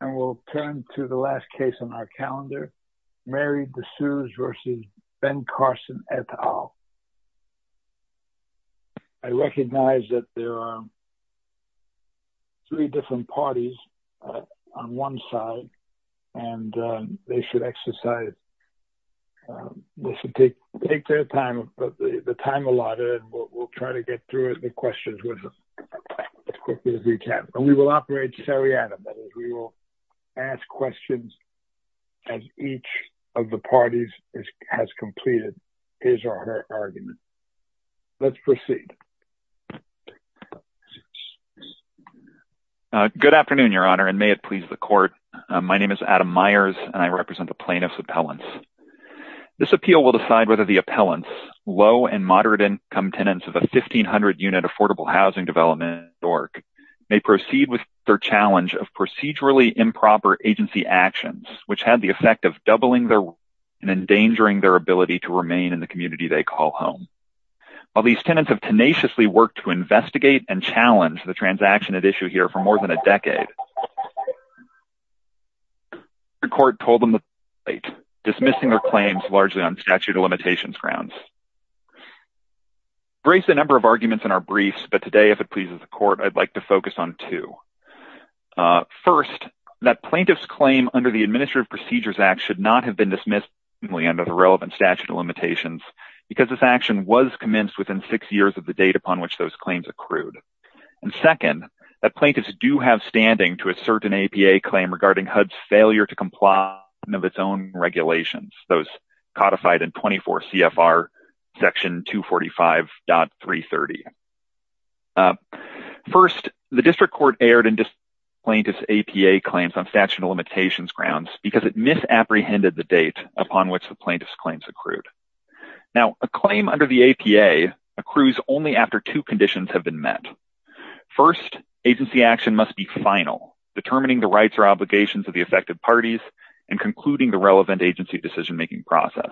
And we'll turn to the last case on our calendar, Mary DeSuze v. Ben Carson et al. I recognize that there are three different parties on one side and they should exercise, they should take their time, the time allotted and we'll try to get through the questions as quickly as we can. And we will operate seriatim, that is we will ask questions as each of the parties has completed his or her argument. Let's proceed. Good afternoon, Your Honor, and may it please the court. My name is Adam Myers and I represent the plaintiff's appellants. This appeal will decide whether the appellants, low and moderate income tenants of a 1,500 unit affordable housing development, may proceed with their challenge of procedurally improper agency actions, which had the effect of doubling their and endangering their ability to remain in the community they call home. While these tenants have tenaciously worked to investigate and challenge the transaction at issue here for more than a decade, the court told them to wait, dismissing their claims largely on statute of limitations grounds. Brace the number of arguments in our briefs, but today, if it pleases the court, I'd like to focus on two. First, that plaintiff's claim under the Administrative Procedures Act should not have been dismissed under the relevant statute of limitations because this action was commenced within six years of the date upon which those claims accrued. And second, that plaintiffs do have standing to assert an APA claim regarding HUD's failure to comply with its own regulations, those codified in 24 CFR section 245.330. First, the district court aired and dismissed plaintiff's APA claims on statute of limitations grounds because it misapprehended the date upon which the plaintiff's claims accrued. Now, a claim under the APA accrues only after two conditions have been met. First, agency action must be final, determining the rights or obligations of the affected parties and concluding the relevant agency decision-making process.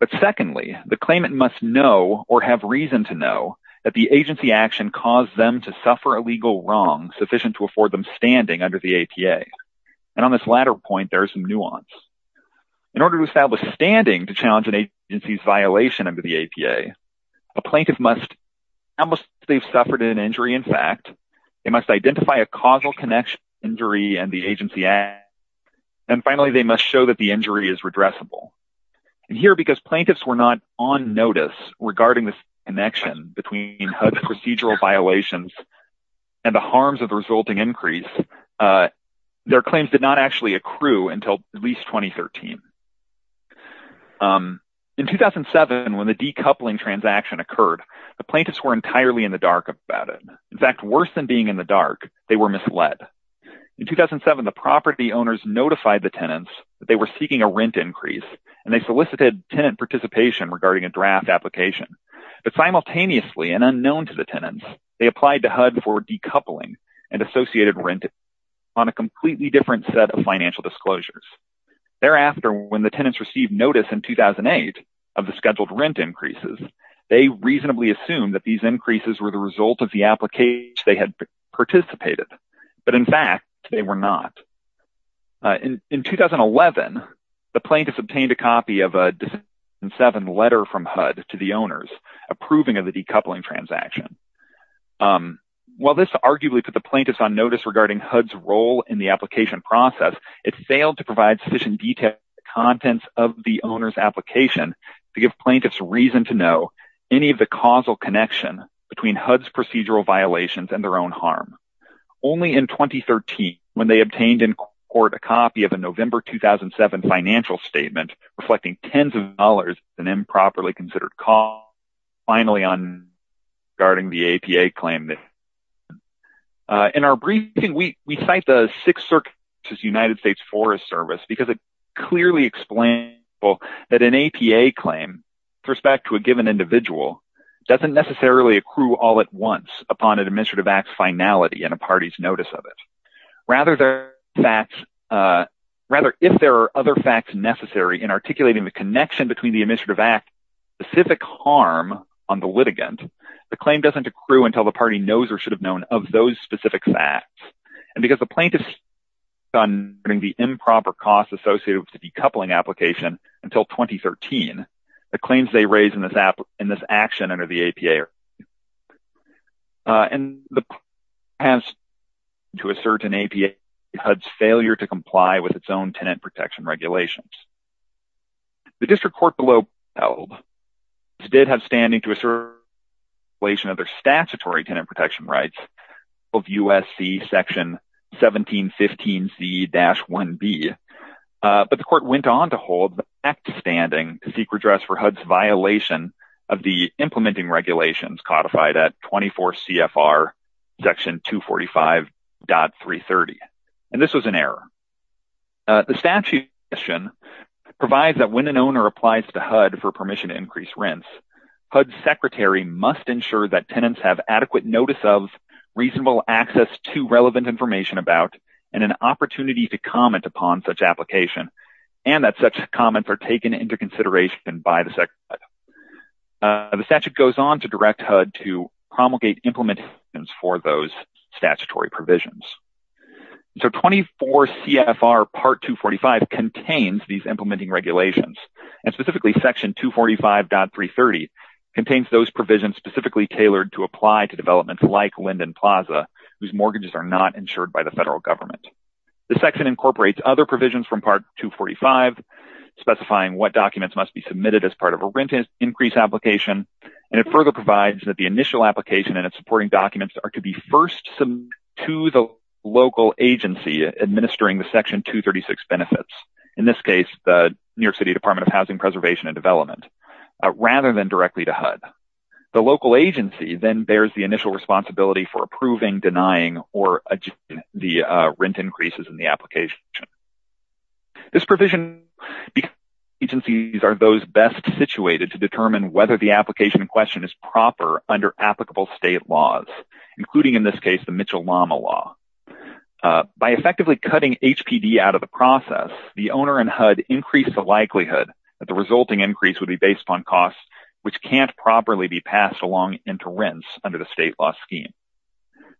But secondly, the claimant must know or have reason to know that the agency action caused them to suffer a legal wrong sufficient to afford them standing under the APA. And on this latter point, there's some nuance. In order to establish standing to challenge an agency's violation under the APA, a plaintiff must, how much they've suffered an injury in fact, they must identify a causal connection injury and the agency act. And finally, they must show that the injury is redressable. And here, because plaintiffs were not on notice regarding this connection between HUD's procedural violations and the harms of the resulting increase, their claims did not actually accrue until at least 2013. In 2007, when the decoupling transaction occurred, the plaintiffs were entirely in the dark about it. In fact, worse than being in the dark, they were misled. In 2007, the property owners notified the tenants that they were seeking a rent increase and they solicited tenant participation regarding a draft application. But simultaneously and unknown to the tenants, they applied to HUD for decoupling and associated rent on a completely different set of financial disclosures. Thereafter, when the tenants received notice in 2008 of the scheduled rent increases, they reasonably assumed that these increases were the result of the application they had participated. But in fact, they were not. In 2011, the plaintiffs obtained a copy of a 2007 letter from HUD to the owners approving of the decoupling transaction. While this arguably put the plaintiffs on notice regarding HUD's role in the application process, it failed to provide sufficient details contents of the owner's application to give plaintiffs reason to know any of the causal connection between HUD's procedural violations and their own harm. Only in 2013, when they obtained in court a copy of a November 2007 financial statement reflecting tens of dollars in improperly considered costs, finally on regarding the APA claim. In our briefing, we cite the Sixth Circuit's United States Forest Service because it clearly explains that an APA claim with respect to a given individual doesn't necessarily accrue all at once upon an administrative act's finality and a party's notice of it. Rather, if there are other facts necessary in articulating the connection between the administrative act, specific harm on the litigant, the claim doesn't accrue until the party knows or should have known of those specific facts. And because the plaintiffs on the improper costs associated with the decoupling application until 2013, the claims they raise in this action under the APA. And the has to assert an APA HUD's failure to comply with its own tenant protection regulations. The district court below held did have standing to assert violation of their statutory tenant protection rights of USC section 1715C-1B. But the court went on to hold the act standing to seek redress for HUD's violation of the implementing regulations codified at 24 CFR section 245.330. And this was an error. The statute provides that when an owner applies to HUD for permission to increase rents, HUD's secretary must ensure that tenants have adequate notice of, reasonable access to relevant information about, and an opportunity to comment upon such application. And that such comments are taken into consideration by the secretary. The statute goes on to direct HUD to promulgate implementations for those statutory provisions. So 24 CFR part 245 contains these implementing regulations. And specifically section 245.330 contains those provisions specifically tailored to apply to developments like Linden Plaza, whose mortgages are not insured by the federal government. The section incorporates other provisions from part 245, specifying what documents must be submitted as part of a rent increase application. And it further provides that the initial application and its supporting documents are to be first to the local agency administering the section 236 benefits. In this case, the New York City Department of Housing Preservation and Development, rather than directly to HUD. The local agency then bears the initial responsibility for approving, denying, or the rent increases in the application. This provision, agencies are those best situated to determine whether the application in question is proper under applicable state laws, including in this case, the Mitchell-Lama law. By effectively cutting HPD out of the process, the owner and HUD increased the likelihood that the resulting increase would be based upon costs, which can't properly be passed along into rents under the state law scheme.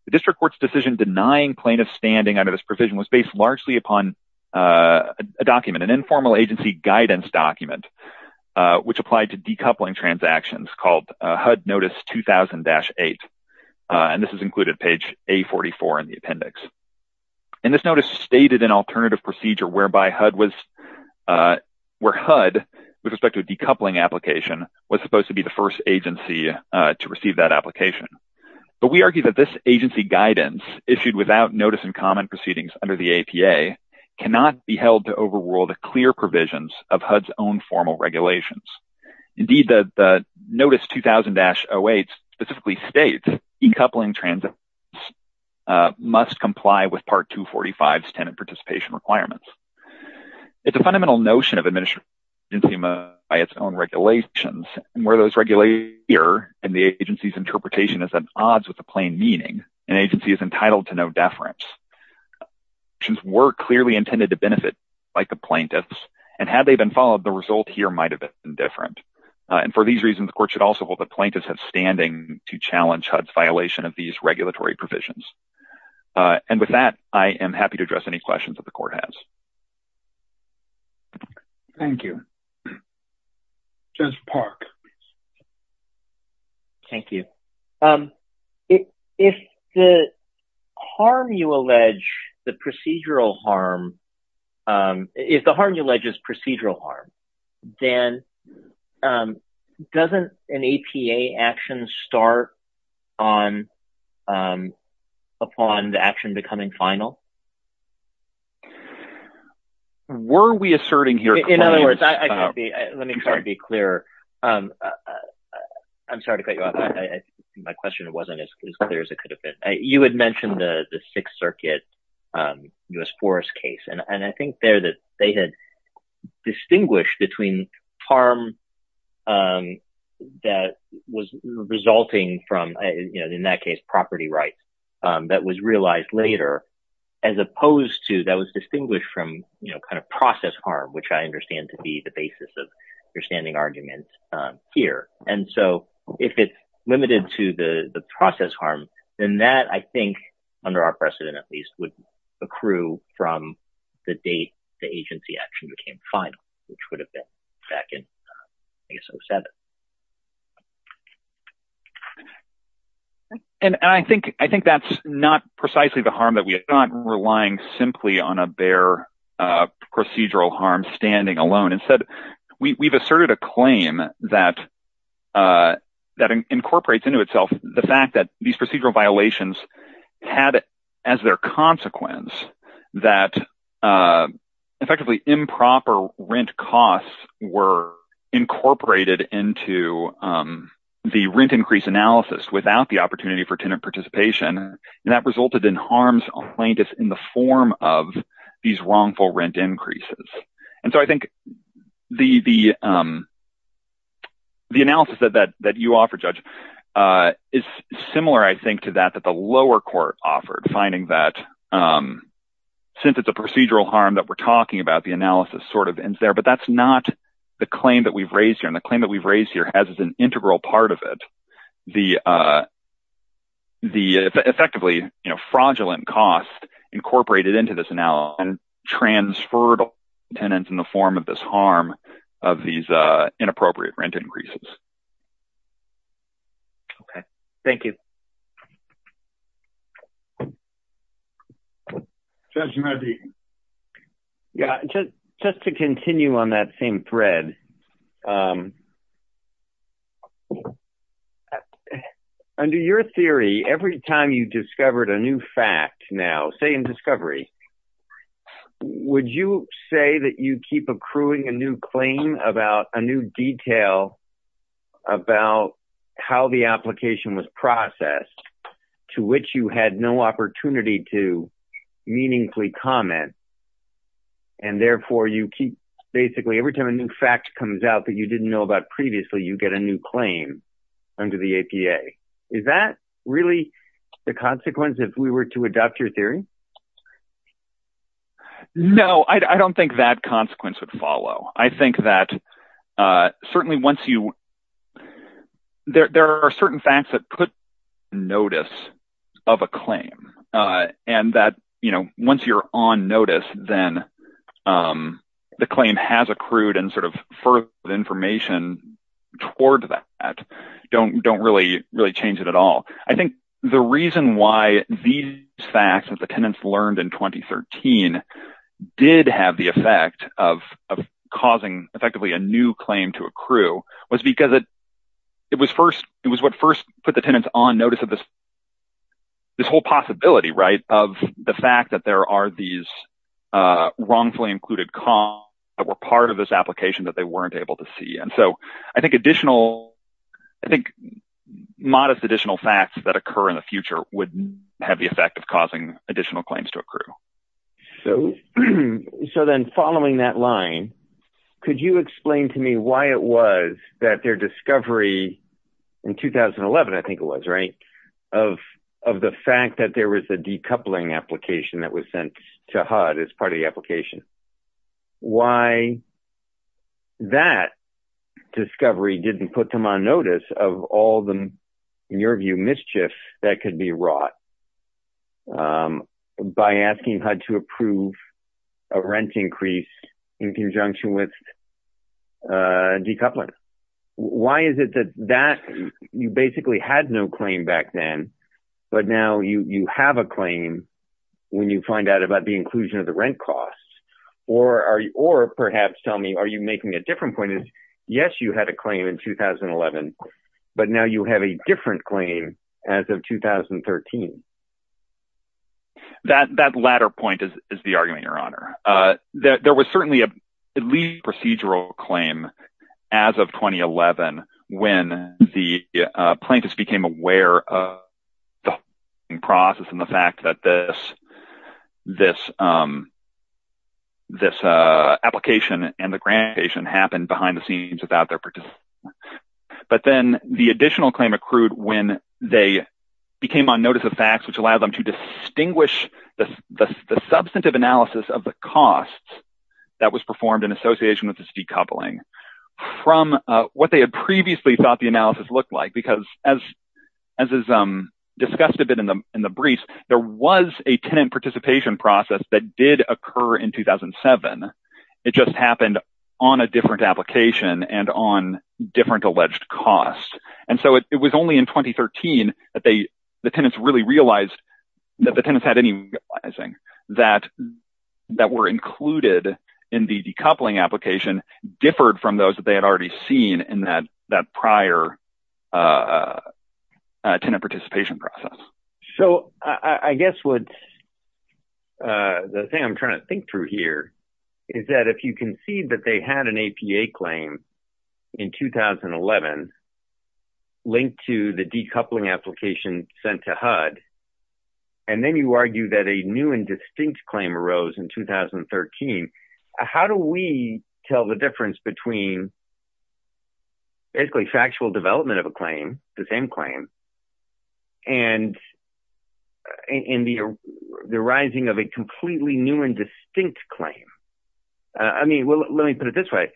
The district court's decision denying plaintiff standing under this provision was based largely upon a document, an informal agency guidance document, which applied to decoupling transactions called HUD Notice 2000-8. And this is included page A44 in the appendix. And this notice stated an alternative procedure whereby HUD was, where HUD, with respect to a decoupling application, was supposed to be the first agency to receive that application. But we argue that this agency guidance, issued without notice and common proceedings under the APA, cannot be held to overrule the clear provisions of HUD's own formal regulations. Indeed, the Notice 2000-08 specifically states, decoupling transactions must comply with Part 245's tenant participation requirements. It's a fundamental notion of administering agency by its own regulations. And where those regulators and the agency's interpretation is at odds with the plain meaning, an agency is entitled to no deference. Since we're clearly intended to benefit like the plaintiffs, and had they been followed, the result here might have been different. And for these reasons, the court should also hold the plaintiffs have standing to challenge HUD's violation of these regulatory provisions. And with that, I am happy to address any questions that the court has. Thank you. Judge Park. Thank you. If the harm you allege, the procedural harm, if the harm you allege is procedural harm, then doesn't an APA action start upon the action becoming final? Were we asserting here? In other words, let me try to be clear. I'm sorry to cut you off. My question wasn't as clear as it could have been. You had mentioned the Sixth Circuit U.S. Forest case, and I think there that they had distinguished between harm that was resulting from, in that case, property rights, that was realized later, as opposed to that was distinguished from kind of process harm, which I understand to be the basis of your standing arguments here. And so if it's limited to the process harm, then that I think, under our precedent at least, would accrue from the date the agency action became final, which would have been back in, I guess, 07. And I think that's not precisely the harm that we are not relying simply on a bare procedural harm standing alone. Instead, we've asserted a claim that incorporates into itself the fact that these procedural violations had as their consequence that effectively improper rent costs were incorporated into the rent increase analysis without the opportunity for tenant participation, and that resulted in harms plaintiffs in the form of these wrongful rent increases. And so I think the analysis that you offer, Judge, is similar, I think, to that, that the lower court offered, finding that since it's a procedural harm that we're talking about, the analysis sort of ends there, but that's not the claim that we've raised here. And the claim that we've raised here has as an integral part of it, the effectively fraudulent costs incorporated into this analysis transferred tenants in the form of this harm of these inappropriate rent increases. Okay, thank you. Judge, you might be. Yeah, just to continue on that same thread, under your theory, every time you discovered a new fact now, say in discovery, would you say that you keep accruing a new claim about a new detail about how the application was processed, to which you had no opportunity to meaningfully comment, and therefore you keep basically, every time a new fact comes out that you didn't know about previously, you get a new claim under the APA. Is that really the consequence if we were to adopt your theory? No, I don't think that consequence would follow. I think that certainly once you, there are certain facts that put notice of a claim, and that once you're on notice, then the claim has accrued and sort of further information toward that don't really change it at all. I think the reason why these facts that the tenants learned in 2013 did have the effect of causing effectively a new claim to accrue was because it was first, it was what first put the tenants on notice of this whole possibility, right? Of the fact that there are these wrongfully included costs that were part of this application that they weren't able to see. And so I think additional, I think modest additional facts that occur in the future would have the effect of causing additional claims to accrue. So then following that line, could you explain to me why it was that their discovery in 2011, I think it was, right? Of the fact that there was a decoupling application that was sent to HUD as part of the application. Why that discovery didn't put them on notice of all the, in your view, mischief that could be wrought. By asking HUD to approve a rent increase in conjunction with decoupling. Why is it that you basically had no claim back then, but now you have a claim when you find out about the inclusion of the rent costs? Or perhaps tell me, are you making a different point? Yes, you had a claim in 2011, but now you have a different claim as of 2013. That latter point is the argument, your honor. There was certainly a procedural claim as of 2011, when the plaintiffs became aware of the process and the fact that this application and the grantation happened behind the scenes without their participation. But then the additional claim accrued when they became on notice of facts, which allowed them to distinguish the substantive analysis of the costs that was performed in association with this decoupling from what they had previously thought the analysis looked like. Because as is discussed a bit in the briefs, there was a tenant participation process that did occur in 2007. It just happened on a different application and on different alleged costs. And so it was only in 2013 that the tenants really realized that the tenants had any realizing that were included in the decoupling application differed from those that they had already seen in that prior tenant participation process. So I guess what the thing I'm trying to think through here is that if you can see that they had an APA claim in 2011, linked to the decoupling application sent to HUD, and then you argue that a new and distinct claim arose in 2013, how do we tell the difference between basically factual development of a claim, the same claim, and in the arising of a completely new and distinct claim? I mean, well, let me put it this way.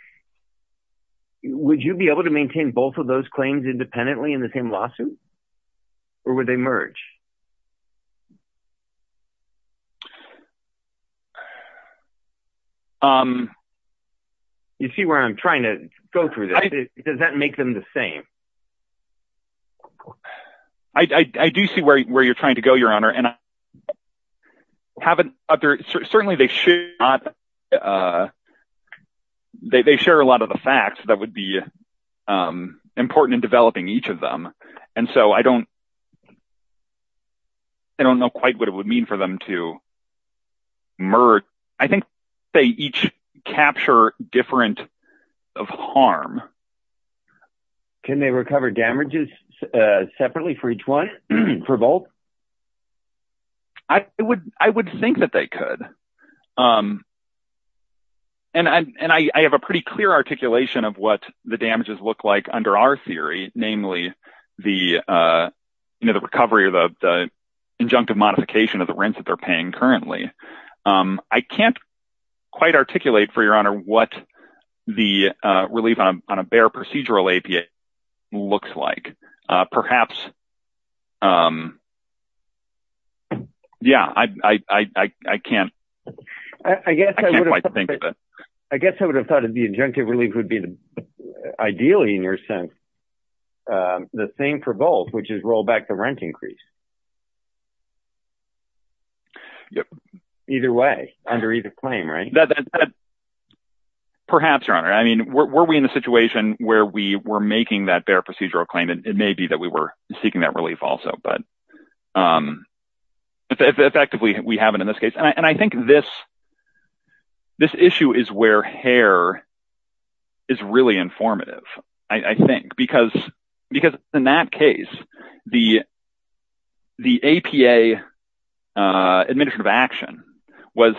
Would you be able to maintain both of those claims independently in the same lawsuit? Or would they merge? You see where I'm trying to go through this. Does that make them the same? I do see where you're trying to go, Your Honor. And certainly they should not, they share a lot of the facts that would be important in developing each of them. And so I don't know quite what it would mean for them to merge. I think they each capture different of harm. Can they recover damages separately for each one, for both? I would think that they could. And I have a pretty clear articulation of what the damages look like under our theory, namely the recovery or the injunctive modification of the rents that they're paying currently. I can't quite articulate, for Your Honor, what the relief on a bare procedural APA looks like. Perhaps, yeah, I can't. I can't quite think of it. I guess I would have thought that the injunctive relief would be ideally, in your sense, the same for both, which is roll back the rent increase. Either way, under either claim, right? Perhaps, Your Honor. I mean, were we in a situation where we were making that bare procedural claim? And it may be that we were seeking that relief also, but effectively we haven't in this case. And I think this issue is where Hare is really informative, I think, because in that case, the APA administrative action was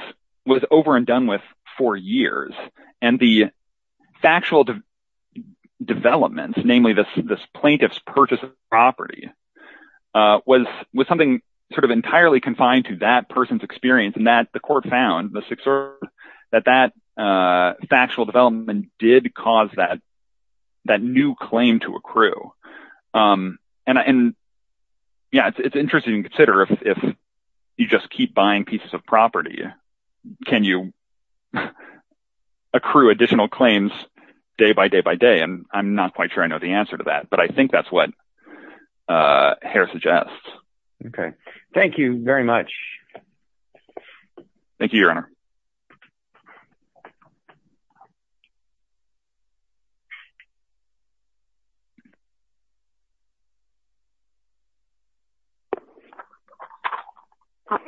over and done with for years. And the factual developments, namely this plaintiff's purchase of property, was something sort of entirely confined to that person's experience, and that the court found that that factual development did cause that new claim to accrue. And yeah, it's interesting to consider if you just keep buying pieces of property, can you accrue additional claims day by day by day? And I'm not quite sure I know the answer to that, but I think that's what Hare suggests. Okay. Thank you very much. Thank you, Your Honor.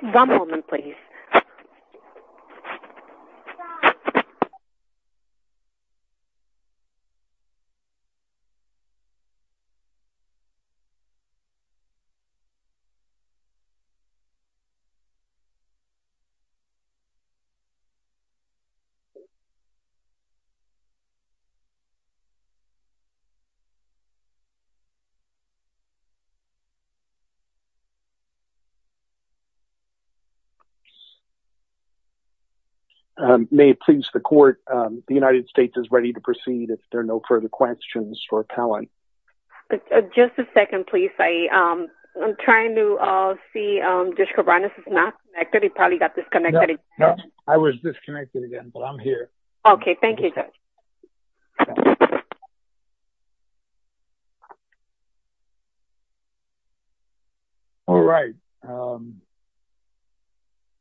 One moment, please. Okay. May it please the court, the United States is ready to proceed if there are no further questions for appellant. Just a second, please. I'm trying to see, Judge Kovanec is not connected, he probably got disconnected. I was disconnected again, but I'm here. Okay, thank you, Judge. All right.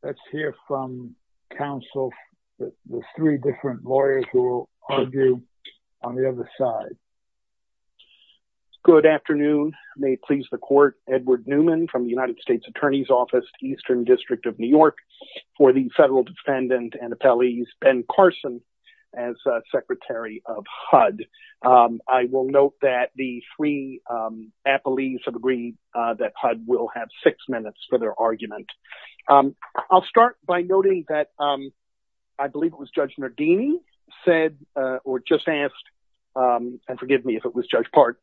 Let's hear from counsel. There's three different lawyers who will argue on the other side. Good afternoon. May it please the court, Edward Newman from the United States Attorney's Office, Eastern District of New York, for the federal defendant and appellees, Ben Carson, as Secretary of HUD. I will note that the three appellees have agreed that HUD will have six minutes for their argument. I'll start by noting that, I believe it was Judge Nardini said, or just asked, and forgive me if it was Judge Park,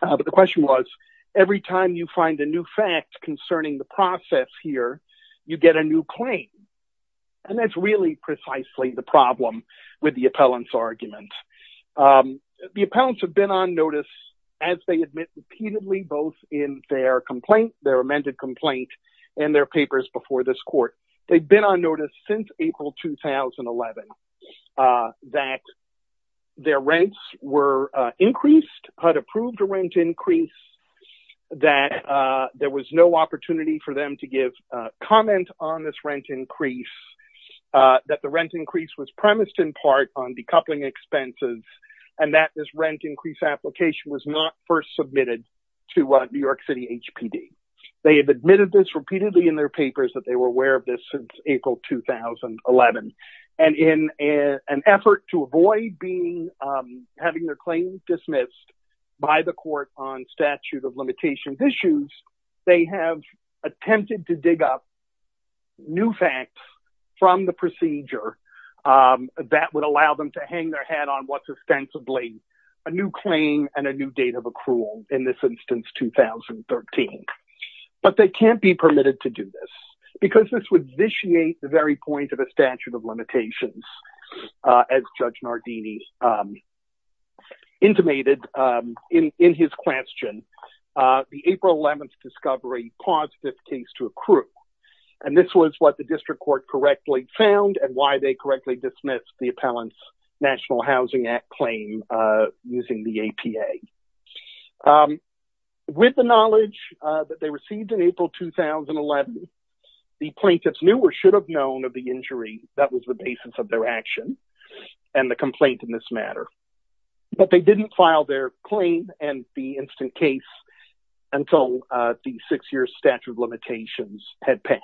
but the question was, every time you find a new fact concerning the process here, you get a new claim. And that's really precisely the problem with the appellant's argument. The appellants have been on notice as they admit repeatedly, both in their complaint, their amended complaint, and their papers before this court. They've been on notice since April, 2011, that their rents were increased, HUD approved a rent increase, that there was no opportunity for them to give comment on this rent increase, that the rent increase was premised in part on decoupling expenses, and that this rent increase application was not first submitted to New York City HPD. They have admitted this repeatedly in their papers that they were aware of this since April, 2011. And in an effort to avoid having their claims dismissed by the court on statute of limitations issues, they have attempted to dig up new facts from the procedure that would allow them to hang their head on what's ostensibly a new claim and a new date of accrual, in this instance, 2013. But they can't be permitted to do this, because this would vitiate the very point of a statute of limitations, as Judge Nardini intimated in his question. The April 11th discovery paused this case to accrue. And this was what the district court correctly found and why they correctly dismissed the Appellant's National Housing Act claim using the APA. With the knowledge that they received in April, 2011, the plaintiffs knew or should have known of the injury that was the basis of their action and the complaint in this matter. But they didn't file their claim and the instant case until the six-year statute of limitations had passed.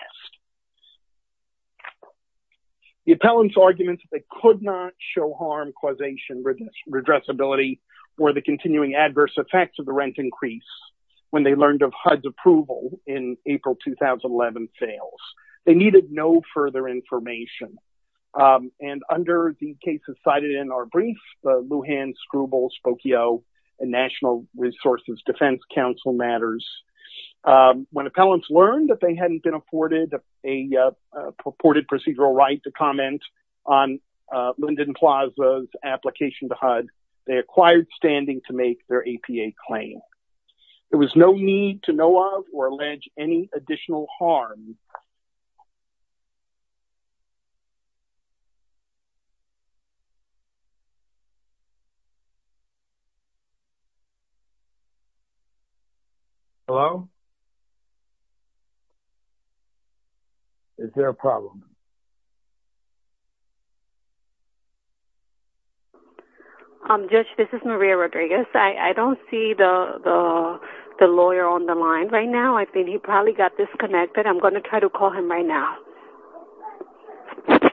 The Appellant's arguments that they could not show harm, causation, redressability, or the continuing adverse effects of the rent increase when they learned of HUD's approval in April, 2011, fails. They needed no further information. And under the cases cited in our brief, Lujan, Scribble, Spokio, and National Resources Defense Counsel matters, when Appellants learned that they hadn't been afforded a purported procedural right to comment on Linden Plaza's application to HUD, they acquired standing to make their APA claim. There was no need to know of or allege any additional harm. Hello? Is there a problem? Judge, this is Maria Rodriguez. I don't see the lawyer on the line right now. I think he probably got disconnected. I'm gonna try to call him right now. I'm gonna try to call him right now.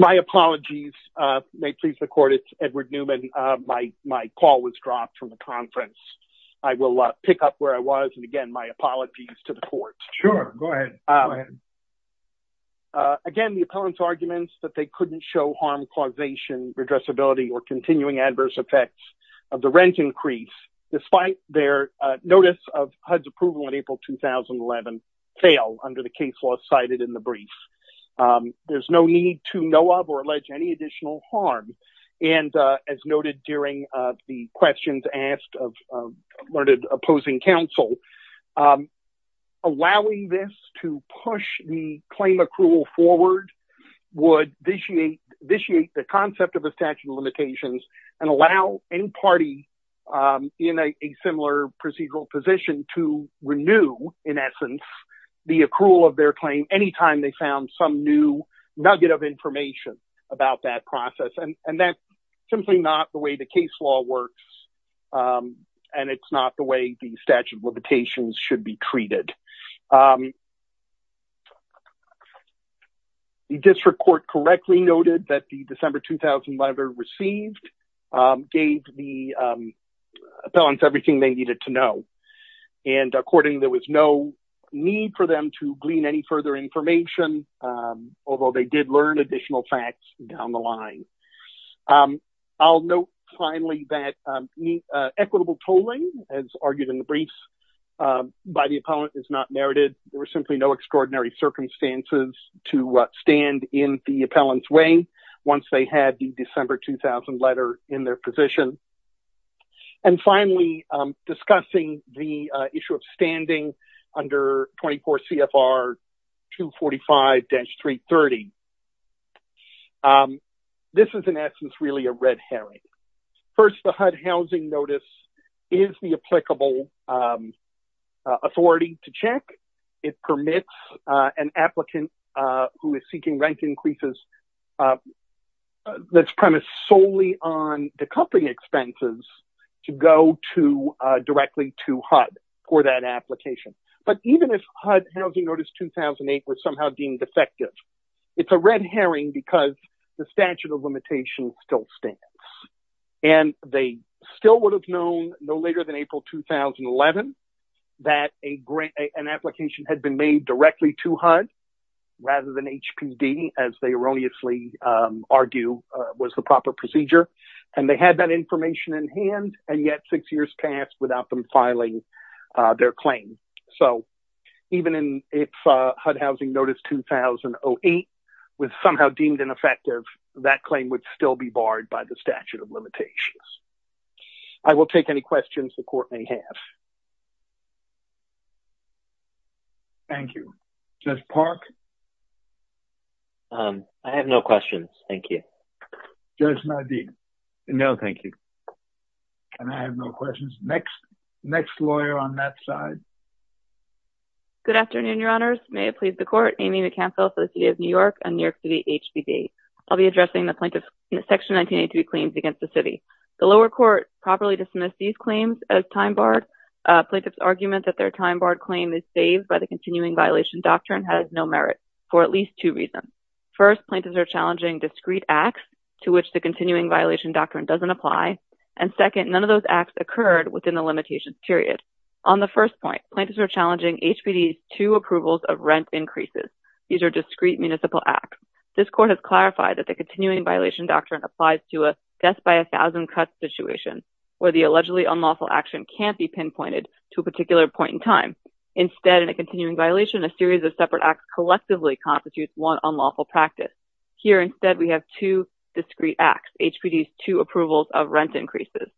My apologies. May it please the court, it's Edward Newman. My call was dropped from the conference. I will pick up where I was, and again, my apologies to the court. Sure, go ahead. Again, the Appellant's arguments that they couldn't show harm, causation, redressability, or continuing adverse effects of the rent increase despite their notice of HUD's approval in April, 2011, fail under the case law cited in the brief. There's no need to know of or allege any additional harm. And as noted during the questions asked of learned opposing counsel, allowing this to push the claim accrual forward would vitiate the concept of a statute of limitations and allow any party in a similar procedural position to renew, in essence, the accrual of their claim anytime they found some new nugget of information about that process. And that's simply not the way the case law works, and it's not the way the statute of limitations should be treated. The District Court correctly noted that the December, 2011 received gave the Appellants everything they needed to know. And according, there was no need for them to glean any further information, although they did learn additional facts down the line. I'll note finally that equitable tolling, as argued in the briefs, by the Appellant is not narrated. There were simply no extraordinary circumstances to stand in the Appellant's way once they had the December, 2000 letter in their position. And finally, discussing the issue of standing under 24 CFR 245-330. This is, in essence, really a red herring. First, the HUD Housing Notice is the applicable authority to check. It permits an applicant who is seeking rent increases that's premised solely on the company expenses to go directly to HUD for that application. But even if HUD Housing Notice 2008 was somehow deemed effective, it's a red herring because the statute of limitations still stands. And they still would have known no later than April, 2011 that an application had been made directly to HUD rather than HPD, as they erroneously argue was the proper procedure. And they had that information in hand, and yet six years passed without them filing their claim. So even if HUD Housing Notice 2008 was somehow deemed ineffective, that claim would still be barred by the statute of limitations. I will take any questions the Court may have. Thank you. Judge Park? I have no questions, thank you. Judge Nadine? No, thank you. And I have no questions. Next, next lawyer on that side. Good afternoon, Your Honors. May it please the Court. Amy McCampbell for the City of New York and New York City HPD. I'll be addressing the plaintiff's Section 1983 claims against the city. The lower court properly dismissed these claims as time barred. Plaintiff's argument that their time barred claim is saved by the continuing violation doctrine has no merit for at least two reasons. First, plaintiffs are challenging discrete acts to which the continuing violation doctrine doesn't apply. And second, none of those acts occurred within the limitations period. On the first point, plaintiffs are challenging HPD's two approvals of rent increases. These are discrete municipal acts. This Court has clarified that the continuing violation doctrine applies to a death by 1,000 cuts situation where the allegedly unlawful action can't be pinpointed to a particular point in time. Instead, in a continuing violation, a series of separate acts collectively constitutes one unlawful practice. Here, instead, we have two discrete acts, HPD's two approvals of rent increases.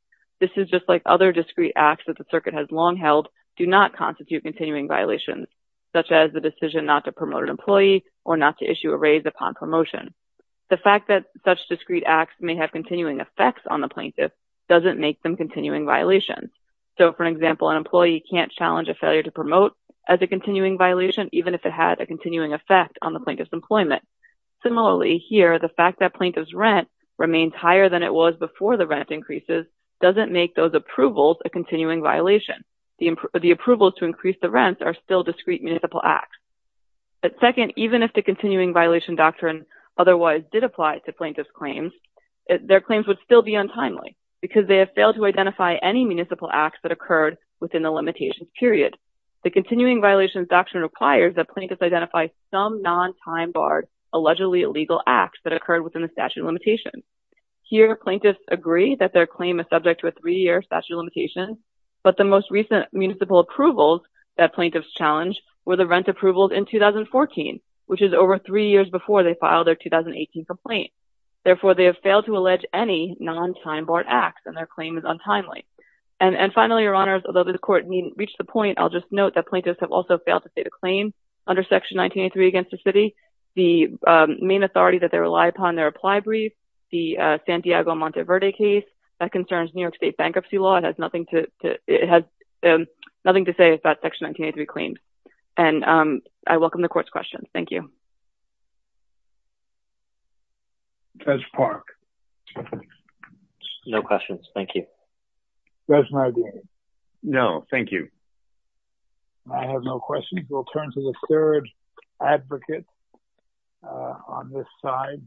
This is just like other discrete acts that the circuit has long held do not constitute continuing violations, such as the decision not to promote an employee or not to issue a raise upon promotion. The fact that such discrete acts may have continuing effects on the plaintiff doesn't make them continuing violations. So, for example, an employee can't challenge a failure to promote as a continuing violation, even if it had a continuing effect on the plaintiff's employment. Similarly, here, the fact that plaintiff's rent remains higher than it was before the rent increases doesn't make those approvals a continuing violation. The approvals to increase the rents are still discrete municipal acts. But second, even if the continuing violation doctrine otherwise did apply to plaintiff's claims, their claims would still be untimely because they have failed to identify any municipal acts that occurred within the limitations period. The continuing violations doctrine requires that plaintiffs identify some non-time-barred, allegedly illegal acts that occurred within the statute of limitations. Here, plaintiffs agree that their claim is subject to a three-year statute of limitations, but the most recent municipal approvals that plaintiffs challenged were the rent approvals in 2014, which is over three years before they filed their 2018 complaint. Therefore, they have failed to allege any non-time-barred acts and their claim is untimely. And finally, your honors, although the court reached the point, I'll just note that plaintiffs have also failed to state a claim under Section 1983 against the city. The main authority that they rely upon in their apply brief, the Santiago Monteverde case, that concerns New York State bankruptcy law and has nothing to say about Section 1983 claims. And I welcome the court's questions. Thank you. Judge Park. No questions, thank you. Judge Maguire. No, thank you. I have no questions. We'll turn to the third advocate on this side.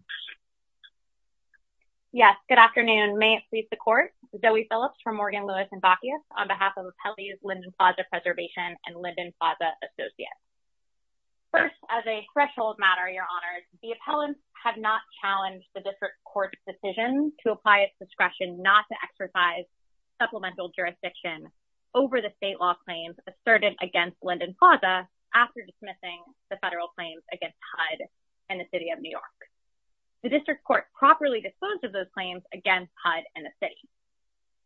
Yes, good afternoon. May it please the court. Zoe Phillips from Morgan, Lewis, and Bacchius on behalf of Appellees Linden Plaza Preservation and Linden Plaza Associates. First, as a threshold matter, your honors, the appellants have not challenged the district court's decision to apply its discretion not to exercise supplemental jurisdiction over the state law claims asserted against Linden Plaza after dismissing the federal claims against HUD and the city of New York. The district court properly disposed of those claims against HUD and the city.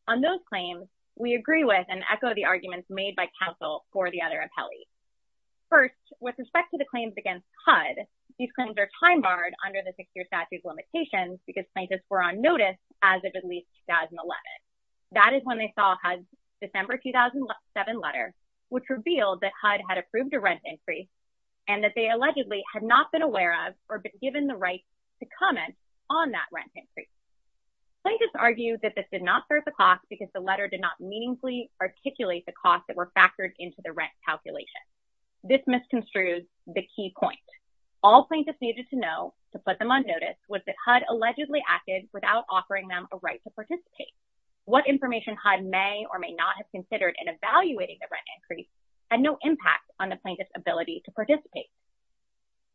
On those claims, we agree with and echo the arguments made by counsel for the other appellees. First, with respect to the claims against HUD, these claims are time-barred under the six-year statute limitations because plaintiffs were on notice as of at least 2011. That is when they saw HUD's December 2007 letter, which revealed that HUD had approved a rent increase and that they allegedly had not been aware of or been given the right to comment on that rent increase. Plaintiffs argue that this did not serve the cost because the letter did not meaningfully articulate the costs that were factored into the rent calculation. This misconstrued the key point. All plaintiffs needed to know to put them on notice was that HUD allegedly acted without offering them a right to participate. What information HUD may or may not have considered in evaluating the rent increase had no impact on the plaintiff's ability to participate.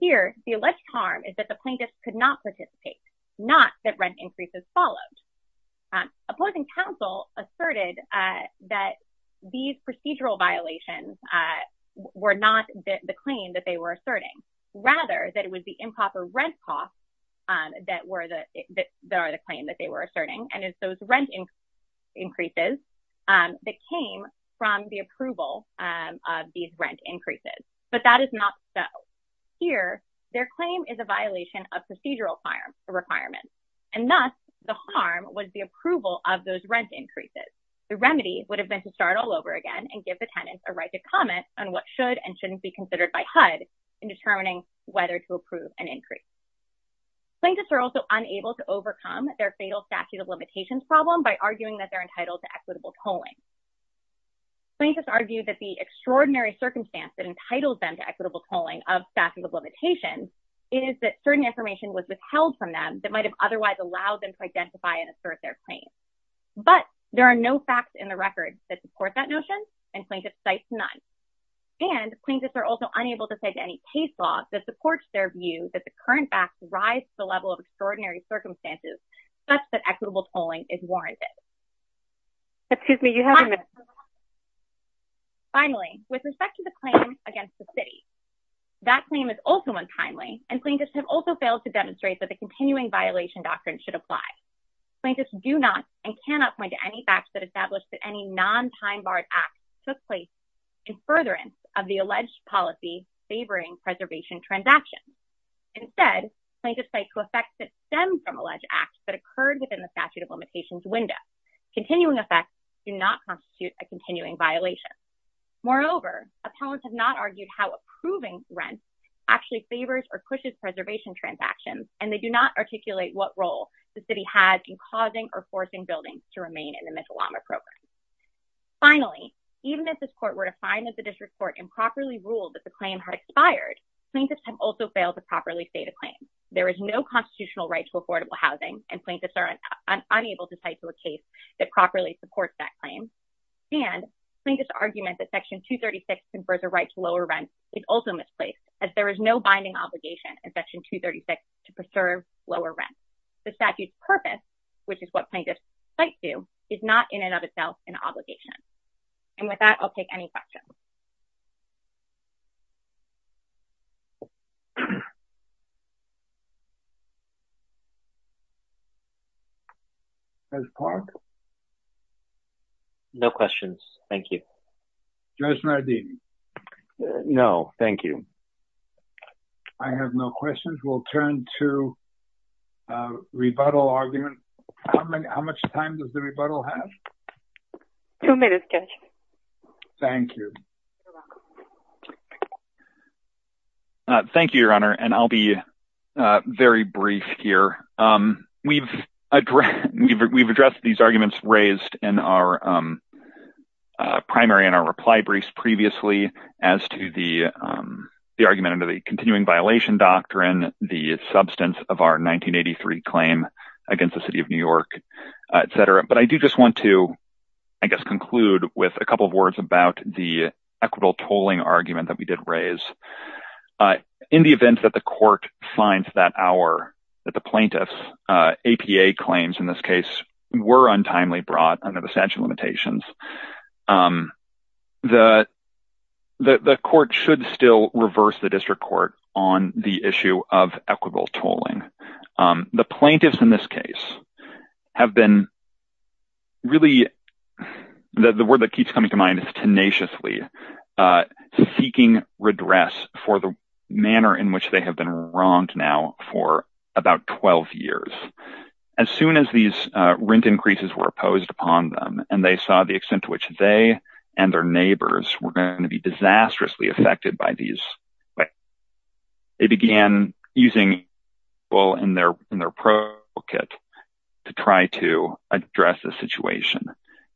Here, the alleged harm is that the plaintiffs could not participate, not that rent increases followed. Opposing counsel asserted that these procedural violations were not the claim that they were asserting, rather that it was the improper rent costs that are the claim that they were asserting and it's those rent increases that came from the approval of these rent increases. But that is not so. Here, their claim is a violation of procedural requirements. And thus, the harm was the approval of those rent increases. The remedy would have been to start all over again and give the tenants a right to comment on what should and shouldn't be considered by HUD in determining whether to approve an increase. Plaintiffs are also unable to overcome their fatal statute of limitations problem by arguing that they're entitled to equitable tolling. Plaintiffs argue that the extraordinary circumstance that entitles them to equitable tolling of statute of limitations is that certain information was withheld from them that might have otherwise allowed them to identify and assert their claim. But there are no facts in the record that support that notion and plaintiff cites none. And plaintiffs are also unable to cite any case law that supports their view that the current facts rise to the level of extraordinary circumstances such that equitable tolling is warranted. Excuse me, you have a minute. Finally, with respect to the claim against the city, that claim is also untimely and plaintiffs have also failed to demonstrate that the continuing violation doctrine should apply. Plaintiffs do not and cannot point to any facts that establish that any non-time-barred act took place in furtherance of the alleged policy favoring preservation transactions. Instead, plaintiffs cite co-effects that stem from alleged acts that occurred within the statute of limitations window. Continuing effects do not constitute a continuing violation. Moreover, appellants have not argued how approving rent actually favors or pushes preservation transactions and they do not articulate what role the city has in causing or forcing buildings to remain in the Mitalama program. Finally, even if this court were to find that the district court improperly ruled that the claim had expired, plaintiffs have also failed to properly state a claim. There is no constitutional right to affordable housing and plaintiffs are unable to cite to a case that properly supports that claim. And plaintiffs' argument that section 236 confers a right to lower rent is also misplaced as there is no binding obligation in section 236 to preserve lower rent. The statute's purpose, which is what plaintiffs cite to, is not in and of itself an obligation. And with that, I'll take any questions. Judge Park? No questions, thank you. Judge Nardini? No, thank you. I have no questions. We'll turn to rebuttal argument. How much time does the rebuttal have? Two minutes, Judge. Thank you. Thank you, Your Honor. And I'll be very brief here. We've addressed these arguments raised in our primary and our reply briefs previously as to the argument under the Continuing Violation Doctrine, the substance of our 1983 claim against the city of New York, et cetera. But I do just want to, I guess, conclude with a couple of words about the equitable tolling argument that we did raise. In the event that the court finds that our, that the plaintiff's APA claims in this case were untimely brought under the statute limitations, the court should still reverse the district court on the issue of equitable tolling. The plaintiffs in this case have been really, the word that keeps coming to mind is tenaciously seeking redress for the manner in which they have been wronged now for about 12 years. As soon as these rent increases were imposed upon them and they saw the extent to which they and their neighbors were going to be disastrously affected by these, they began using people in their pro kit to try to address the situation.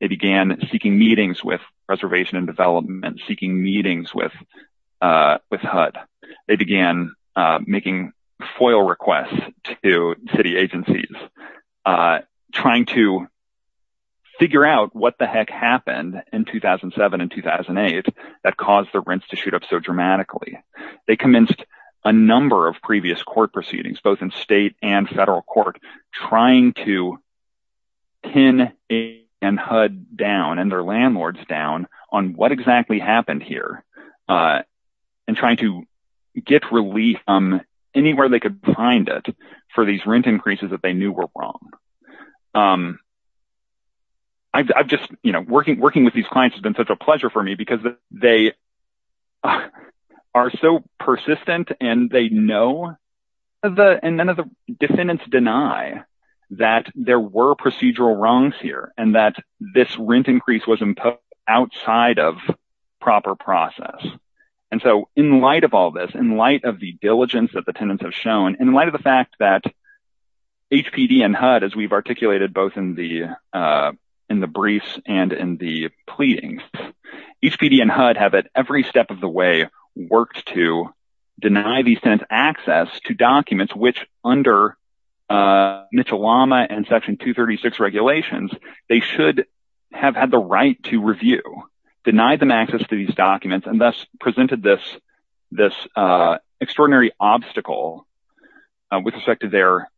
They began seeking meetings with Reservation and Development, seeking meetings with HUD. They began making FOIL requests to city agencies trying to figure out what the heck happened in 2007 and 2008 that caused the rents to shoot up so dramatically. They commenced a number of previous court proceedings, both in state and federal court, trying to pin and HUD down and their landlords down on what exactly happened here and trying to get relief from anywhere they could find it for these rent increases that they knew were wrong. I've just, you know, working with these clients has been such a pleasure for me because they, they are so persistent and they know and none of the defendants deny that there were procedural wrongs here and that this rent increase was imposed outside of proper process. And so in light of all this, in light of the diligence that the tenants have shown, in light of the fact that HPD and HUD, as we've articulated both in the briefs and in the pleadings, HPD and HUD have at every step of the way worked to deny these tenants access to documents which under Mitchell-Lama and Section 236 regulations, they should have had the right to review, deny them access to these documents and thus presented this extraordinary obstacle with respect to their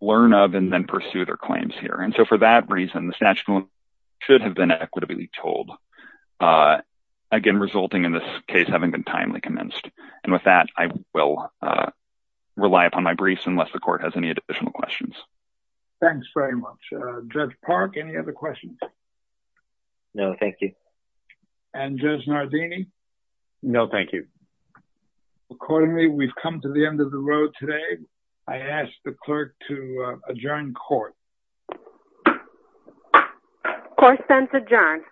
learn of and then pursue their claims here. And so for that reason, the statute should have been equitably told. Again, resulting in this case having been timely commenced. And with that, I will rely upon my briefs unless the court has any additional questions. Thanks very much. Judge Park, any other questions? No, thank you. And Judge Nardini? No, thank you. Accordingly, we've come to the end of the road today. I ask the clerk to adjourn court. Court sents adjourned.